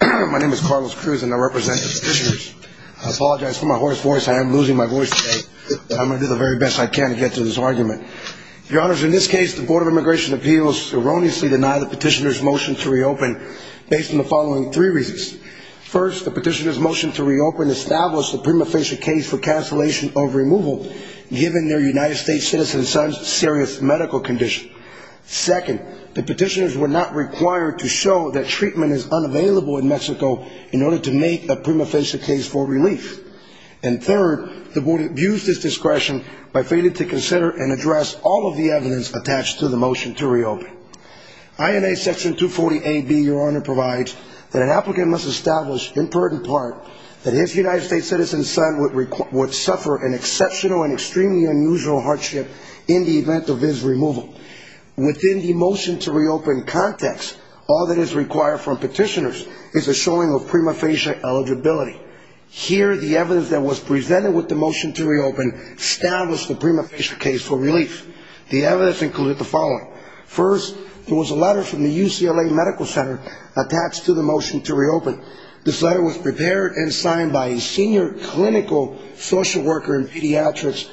My name is Carlos Cruz and I represent the petitioners. I apologize for my hoarse voice. I am losing my voice today. But I'm going to do the very best I can to get to this argument. Your Honors, in this case, the Board of Immigration Appeals erroneously denied the petitioners' motion to reopen based on the following three reasons. First, the petitioners' motion to reopen established the prima facie case for cancellation of removal given their United States citizen son's serious medical condition. Second, the petitioners were not required to show that treatment is unavailable in Mexico in order to make a prima facie case for relief. And third, the Board abused its discretion by failing to consider and address all of the evidence attached to the motion to reopen. INA Section 240A-B, Your Honor, provides that an applicant must establish, in part and part, that his United States citizen son would suffer an exceptional and extremely unusual hardship in the event of his removal. Within the motion to reopen context, all that is required from petitioners is a showing of prima facie eligibility. Here, the evidence that was presented with the motion to reopen established the prima facie case for relief. The evidence included the following. First, there was a letter from the UCLA Medical Center attached to the motion to reopen. This letter was prepared and signed by a senior clinical social worker in pediatrics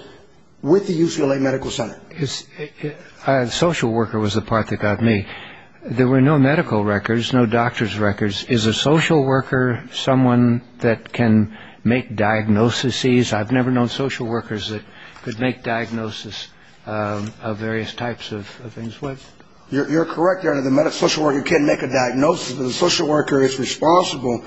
with the UCLA Medical Center. A social worker was the part that got me. There were no medical records, no doctor's records. Is a social worker someone that can make diagnoses? I've never known social workers that could make diagnoses of various types of things. You're correct, Your Honor, the social worker can make a diagnosis. The social worker is responsible,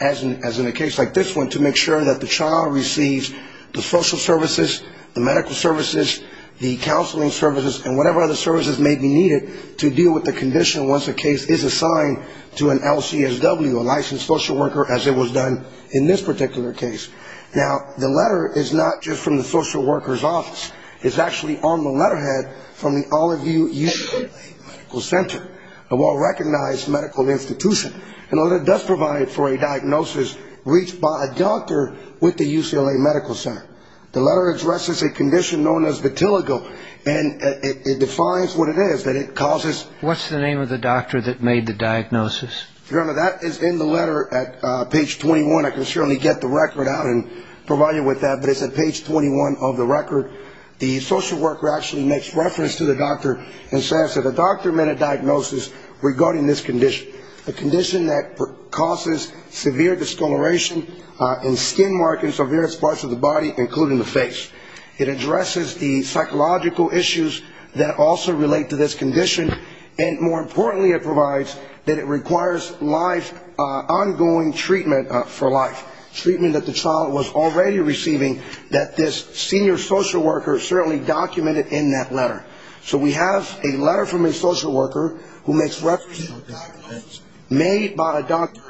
as in a case like this one, to make sure that the child receives the social services, the medical services, the counseling services, and whatever other services may be needed to deal with the condition once a case is assigned to an LCSW, a licensed social worker, as it was done in this particular case. Now, the letter is not just from the social worker's office. It's actually on the letterhead from the all of you UCLA Medical Center. A well-recognized medical institution. The letter does provide for a diagnosis reached by a doctor with the UCLA Medical Center. The letter addresses a condition known as vitiligo, and it defines what it is, that it causes. What's the name of the doctor that made the diagnosis? Your Honor, that is in the letter at page 21. I can certainly get the record out and provide you with that, but it's at page 21 of the record. The social worker actually makes reference to the doctor and says that the doctor made a diagnosis regarding this condition, a condition that causes severe discoloration and skin markings of various parts of the body, including the face. It addresses the psychological issues that also relate to this condition, and more importantly it provides that it requires ongoing treatment for life, treatment that the child was already receiving, that this senior social worker certainly documented in that letter. So we have a letter from a social worker who makes reference to a diagnosis made by a doctor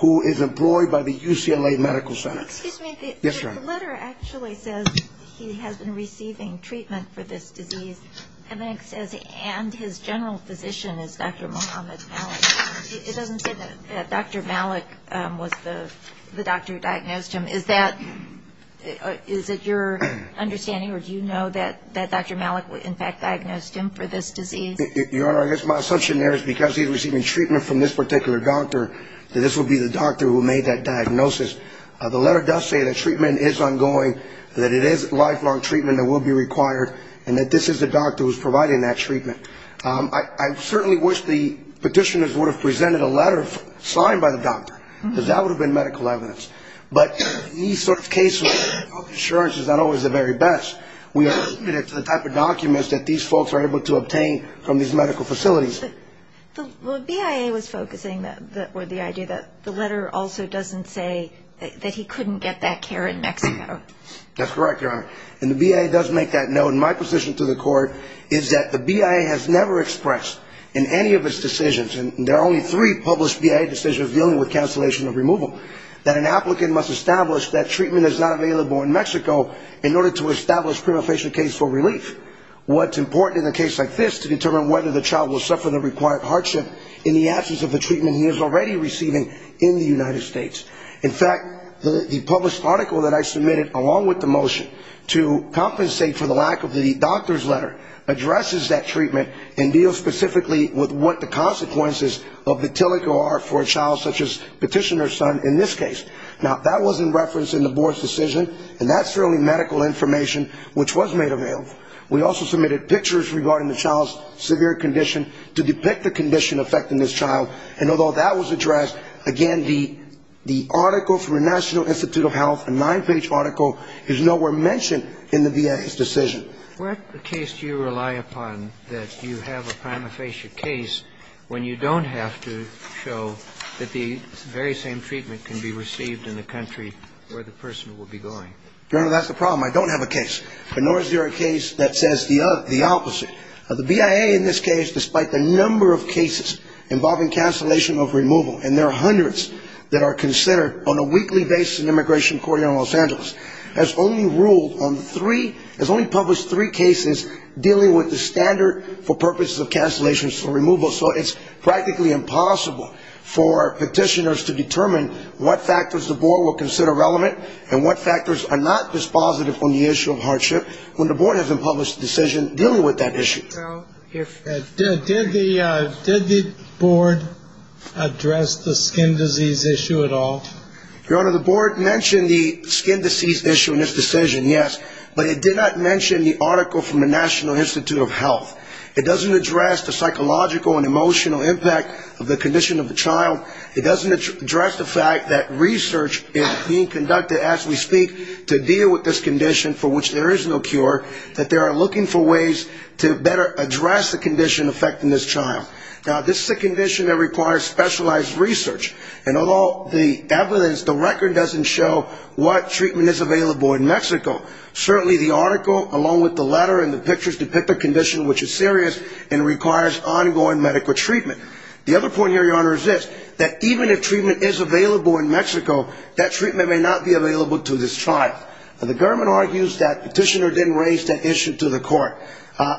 who is employed by the UCLA Medical Center. Excuse me. Yes, Your Honor. The letter actually says he has been receiving treatment for this disease, and then it says and his general physician is Dr. Mohamed Malik. It doesn't say that Dr. Malik was the doctor who diagnosed him. Is that your understanding, or do you know that Dr. Malik in fact diagnosed him for this disease? Your Honor, I guess my assumption there is because he's receiving treatment from this particular doctor, that this would be the doctor who made that diagnosis. The letter does say that treatment is ongoing, that it is lifelong treatment that will be required, and that this is the doctor who's providing that treatment. I certainly wish the petitioners would have presented a letter signed by the doctor, because that would have been medical evidence. But these sorts of cases, health insurance is not always the very best. We are limited to the type of documents that these folks are able to obtain from these medical facilities. But the BIA was focusing on the idea that the letter also doesn't say that he couldn't get that care in Mexico. That's correct, Your Honor. And the BIA does make that note. And my position to the court is that the BIA has never expressed in any of its decisions, and there are only three published BIA decisions dealing with cancellation of removal, that an applicant must establish that treatment is not available in Mexico in order to establish prima facie case for relief. What's important in a case like this to determine whether the child will suffer the required hardship in the absence of the treatment he is already receiving in the United States. In fact, the published article that I submitted along with the motion to compensate for the lack of the doctor's letter addresses that treatment and deals specifically with what the consequences of the TILIC are for a child such as petitioner's son in this case. Now, that was in reference in the board's decision, and that's the only medical information which was made available. We also submitted pictures regarding the child's severe condition to depict the condition affecting this child, and although that was addressed, again, the article from the National Institute of Health, a nine-page article, is nowhere mentioned in the BIA's decision. What case do you rely upon that you have a prima facie case when you don't have to show that the very same treatment can be received in the country where the person will be going? Your Honor, that's the problem. I don't have a case, nor is there a case that says the opposite. The BIA in this case, despite the number of cases involving cancellation of removal, and there are hundreds that are considered on a weekly basis in immigration court here in Los Angeles, has only ruled on three, has only published three cases dealing with the standard for purposes of cancellation of removal, so it's practically impossible for petitioners to determine what factors the board will consider relevant and what factors are not dispositive on the issue of hardship when the board hasn't published a decision dealing with that issue. Did the board address the skin disease issue at all? Your Honor, the board mentioned the skin disease issue in its decision, yes, but it did not mention the article from the National Institute of Health. It doesn't address the psychological and emotional impact of the condition of the child. It doesn't address the fact that research is being conducted as we speak to deal with this condition for which there is no cure, that they are looking for ways to better address the condition affecting this child. Now, this is a condition that requires specialized research, and although the evidence, the record doesn't show what treatment is available in Mexico, certainly the article along with the letter and the pictures depict a condition which is serious and requires ongoing medical treatment. The other point here, Your Honor, is this, that even if treatment is available in Mexico, that treatment may not be available to this child. And the government argues that petitioner didn't raise that issue to the court,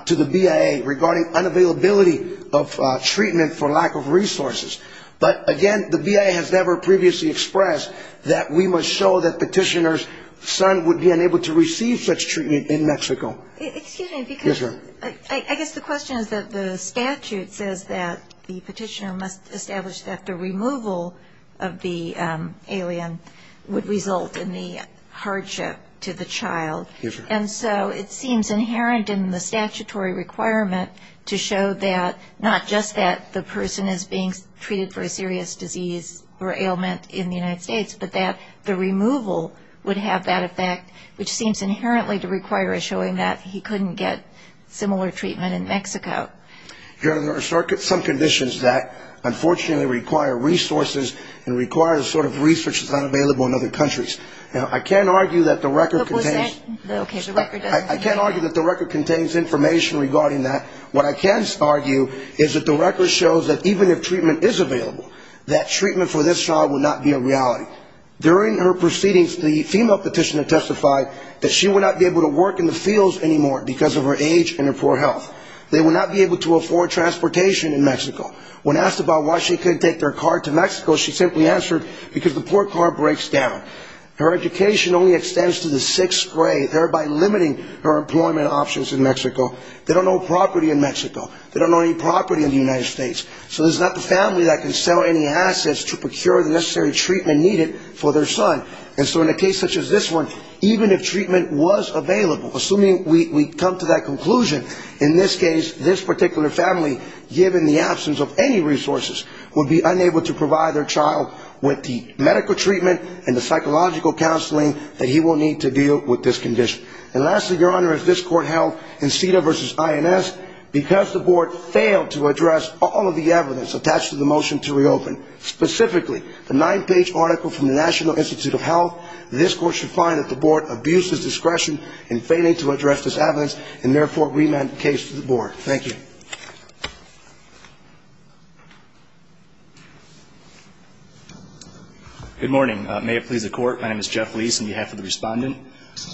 to the BIA, regarding unavailability of treatment for lack of resources. But again, the BIA has never previously expressed that we must show that petitioner's son would be unable to receive such treatment in Mexico. Excuse me, because I guess the question is that the statute says that the petitioner must establish that the removal of the alien would result in the hardship to the child. And so it seems inherent in the statutory requirement to show that, not just that the person is being treated for a serious disease or ailment in the United States, but that the removal would have that effect, which seems inherently to require a showing that he couldn't get similar treatment in Mexico. Your Honor, there are some conditions that unfortunately require resources and require the sort of research that's not available in other countries. I can't argue that the record contains information regarding that. What I can argue is that the record shows that even if treatment is available, that treatment for this child would not be a reality. During her proceedings, the female petitioner testified that she would not be able to work in the fields anymore because of her age and her poor health. They would not be able to afford transportation in Mexico. When asked about why she couldn't take their car to Mexico, she simply answered because the poor car breaks down. Her education only extends to the sixth grade, thereby limiting her employment options in Mexico. They don't own property in Mexico. They don't own any property in the United States. So this is not the family that can sell any assets to procure the necessary treatment needed for their son. And so in a case such as this one, even if treatment was available, assuming we come to that conclusion, in this case, this particular family, given the absence of any resources, would be unable to provide their child with the medical treatment and the psychological counseling that he will need to deal with this condition. And lastly, Your Honor, as this Court held in CEDA v. INS, because the Board failed to address all of the evidence attached to the motion to reopen, specifically the nine-page article from the National Institute of Health, this Court should find that the Board abuses discretion in failing to address this evidence and therefore remand the case to the Board. Thank you. Good morning. May it please the Court, my name is Jeff Leis on behalf of the Respondent.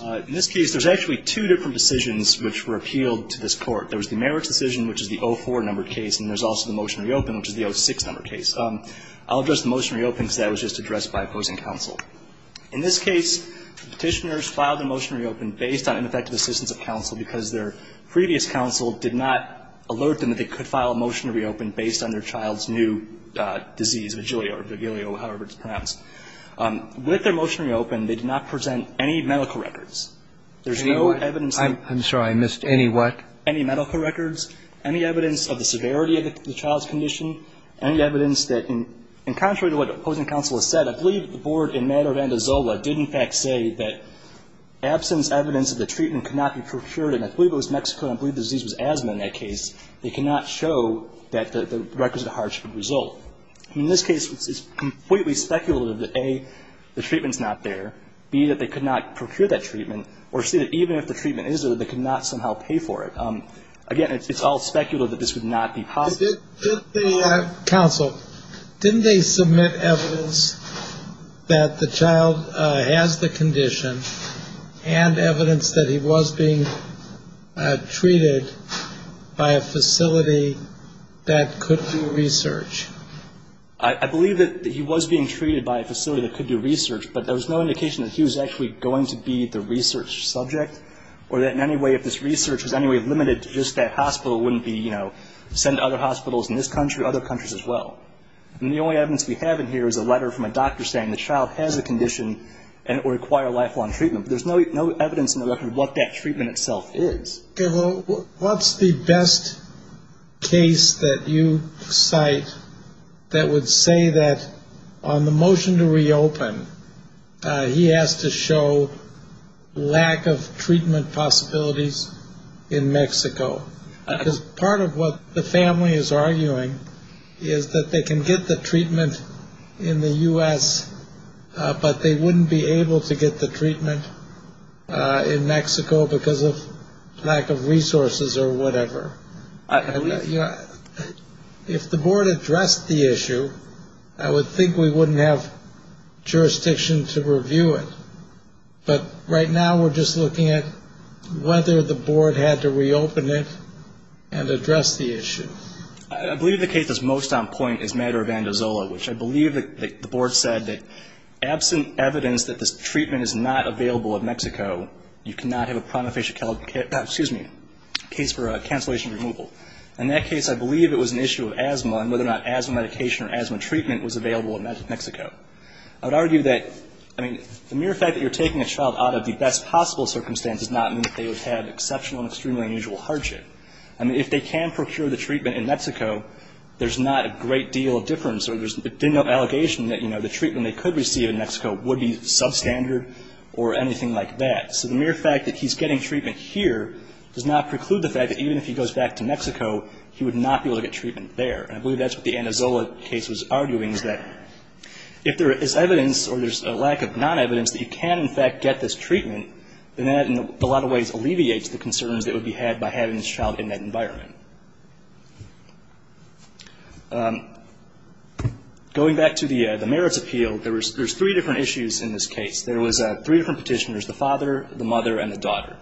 In this case, there's actually two different decisions which were appealed to this Court. There was the merits decision, which is the 04 number case, and there's also the motion to reopen, which is the 06 number case. I'll address the motion to reopen because that was just addressed by opposing counsel. In this case, Petitioners filed a motion to reopen based on ineffective assistance of counsel because their previous counsel did not alert them that they could file a motion to reopen based on their child's new disease, Vigilio or Vigilio, however it's pronounced. With their motion to reopen, they did not present any medical records. There's no evidence that they did. I'm sorry, I missed any what? Any medical records, any evidence of the severity of the child's condition, any evidence that in contrary to what opposing counsel has said, I believe the Board in matter of Andazola did in fact say that absence evidence of the treatment could not be procured, and I believe it was Mexico and I believe the disease was asthma in that case. They cannot show that the records of the hardship would result. In this case, it's completely speculative that, A, the treatment's not there, B, that they could not procure that treatment, or C, that even if the treatment is there, they could not somehow pay for it. Again, it's all speculative that this would not be possible. Counsel, didn't they submit evidence that the child has the condition and evidence that he was being treated by a facility that could do research? I believe that he was being treated by a facility that could do research, but there was no indication that he was actually going to be the research subject or that in any way if this research was any way limited to just that hospital wouldn't be, you know, send to other hospitals in this country or other countries as well. And the only evidence we have in here is a letter from a doctor saying the child has a condition and it would require lifelong treatment. There's no evidence in the record of what that treatment itself is. Okay. Well, what's the best case that you cite that would say that on the motion to reopen, he has to show lack of treatment possibilities in Mexico? Because part of what the family is arguing is that they can get the treatment in the U.S., but they wouldn't be able to get the treatment in Mexico because of lack of resources or whatever. If the board addressed the issue, I would think we wouldn't have jurisdiction to review it. But right now we're just looking at whether the board had to reopen it and address the issue. I believe the case that's most on point is Maduro-Vandizola, which I believe the board said that absent evidence that this treatment is not available in Mexico, you cannot have a case for cancellation removal. In that case, I believe it was an issue of asthma and whether or not asthma medication or asthma treatment was available in Mexico. I would argue that, I mean, the mere fact that you're taking a child out of the best possible circumstance does not mean that they would have exceptional and extremely unusual hardship. I mean, if they can procure the treatment in Mexico, there's not a great deal of difference. There's no allegation that, you know, the treatment they could receive in Mexico would be substandard or anything like that. So the mere fact that he's getting treatment here does not preclude the fact that even if he goes back to Mexico, he would not be able to get treatment there. And I believe that's what the Vandizola case was arguing is that if there is evidence or there's a lack of non-evidence that you can, in fact, get this treatment, then that in a lot of ways alleviates the concerns that would be had by having this child in that environment. Going back to the merits appeal, there's three different issues in this case. There was three different Petitioners, the father, the mother, and the daughter.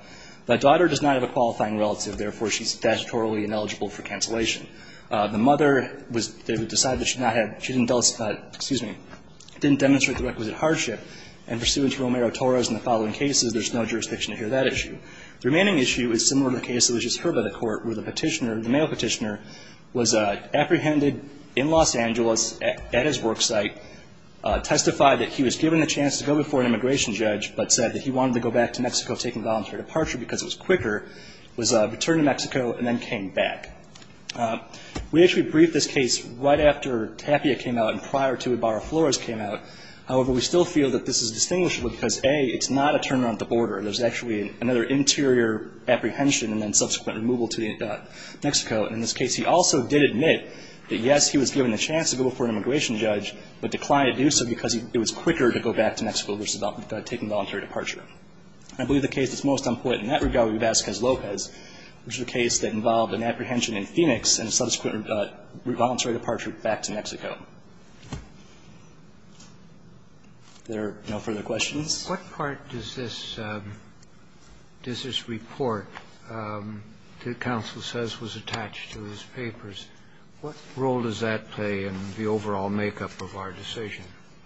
The daughter does not have a qualifying relative. Therefore, she's statutorily ineligible for cancellation. The mother was they decided that she did not have, she didn't, excuse me, didn't demonstrate the requisite hardship. And pursuant to Romero-Torres and the following cases, there's no jurisdiction to hear that issue. The remaining issue is similar to the case that was just heard by the Court where the Petitioner the male Petitioner was apprehended in Los Angeles at his work site, testified that he was given the chance to go before an immigration judge, but said that he wanted to go back to Mexico taking voluntary departure because it was quicker, was returned to Mexico, and then came back. We actually briefed this case right after Tapia came out and prior to Ibarra-Flores came out. However, we still feel that this is distinguishable because, A, it's not a turnaround at the border. There's actually another interior apprehension and then subsequent removal to Mexico. And in this case, he also did admit that, yes, he was given the chance to go before an immigration judge, but declined to do so because it was quicker to go back to Mexico versus taking voluntary departure. I believe the case that's most unpopular in that regard would be Vasquez-Lopez, which is a case that involved an apprehension in Phoenix and subsequent voluntary departure back to Mexico. If there are no further questions. What part does this report that counsel says was attached to his papers, what role does that play in the overall makeup of our decision?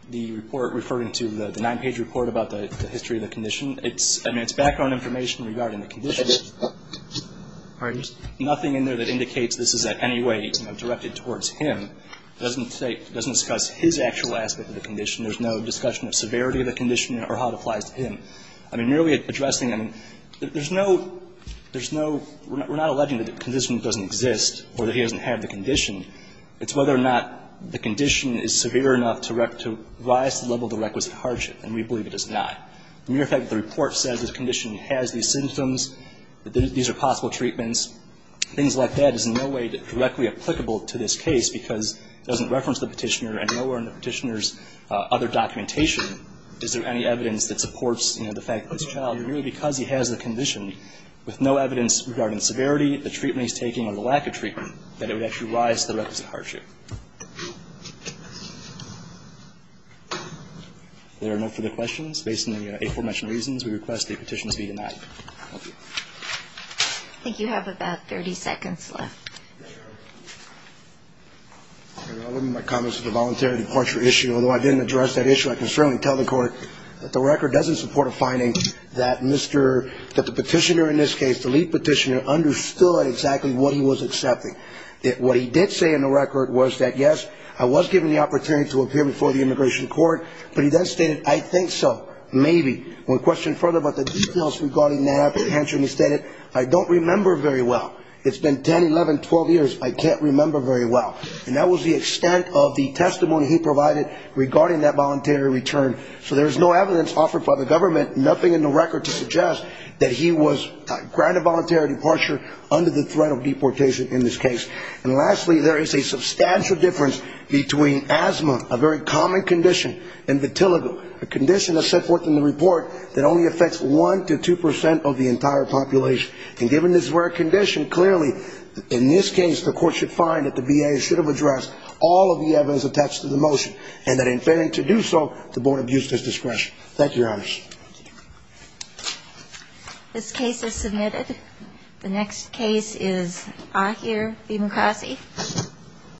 The report referring to the nine-page report about the history of the condition, it's background information regarding the condition. Nothing in there that indicates this is in any way directed towards him. It doesn't discuss his actual aspect of the condition. There's no discussion of severity of the condition or how it applies to him. I mean, merely addressing, I mean, there's no, there's no, we're not alleging that the condition doesn't exist or that he doesn't have the condition. It's whether or not the condition is severe enough to rise to the level of the requisite hardship, and we believe it is not. As a matter of fact, the report says the condition has these symptoms, that these are possible treatments. Things like that is in no way directly applicable to this case because it doesn't reference the petitioner and nowhere in the petitioner's other documentation is there any evidence that supports, you know, the fact that this child, merely because he has the condition with no evidence regarding the severity, the treatment he's taking, or the lack of treatment, that it would actually rise to the requisite hardship. If there are no further questions, based on the aforementioned reasons, we request the petition to be denied. Thank you. I think you have about 30 seconds left. I'll leave my comments to the voluntary departure issue. Although I didn't address that issue, I can certainly tell the court that the record doesn't support a finding that the petitioner in this case, the lead petitioner, understood exactly what he was accepting. What he did say in the record was that, yes, I was given the opportunity to appear before the immigration court, but he then stated, I think so, maybe. One question further about the details regarding that, he answered and he stated, I don't remember very well. It's been 10, 11, 12 years, I can't remember very well. And that was the extent of the testimony he provided regarding that voluntary return. So there's no evidence offered by the government, nothing in the record to suggest that he was granted voluntary departure under the threat of deportation in this case. And lastly, there is a substantial difference between asthma, a very common condition, and vetiligo, a condition that's set forth in the report that only affects 1 to 2 percent of the entire population. And given this rare condition, clearly, in this case, the court should find that the VA should have addressed all of the evidence attached to the motion, and that in failing to do so, the board abused his discretion. Thank you, Your Honors. This case is submitted. The next case is Ahir V. Mukasey.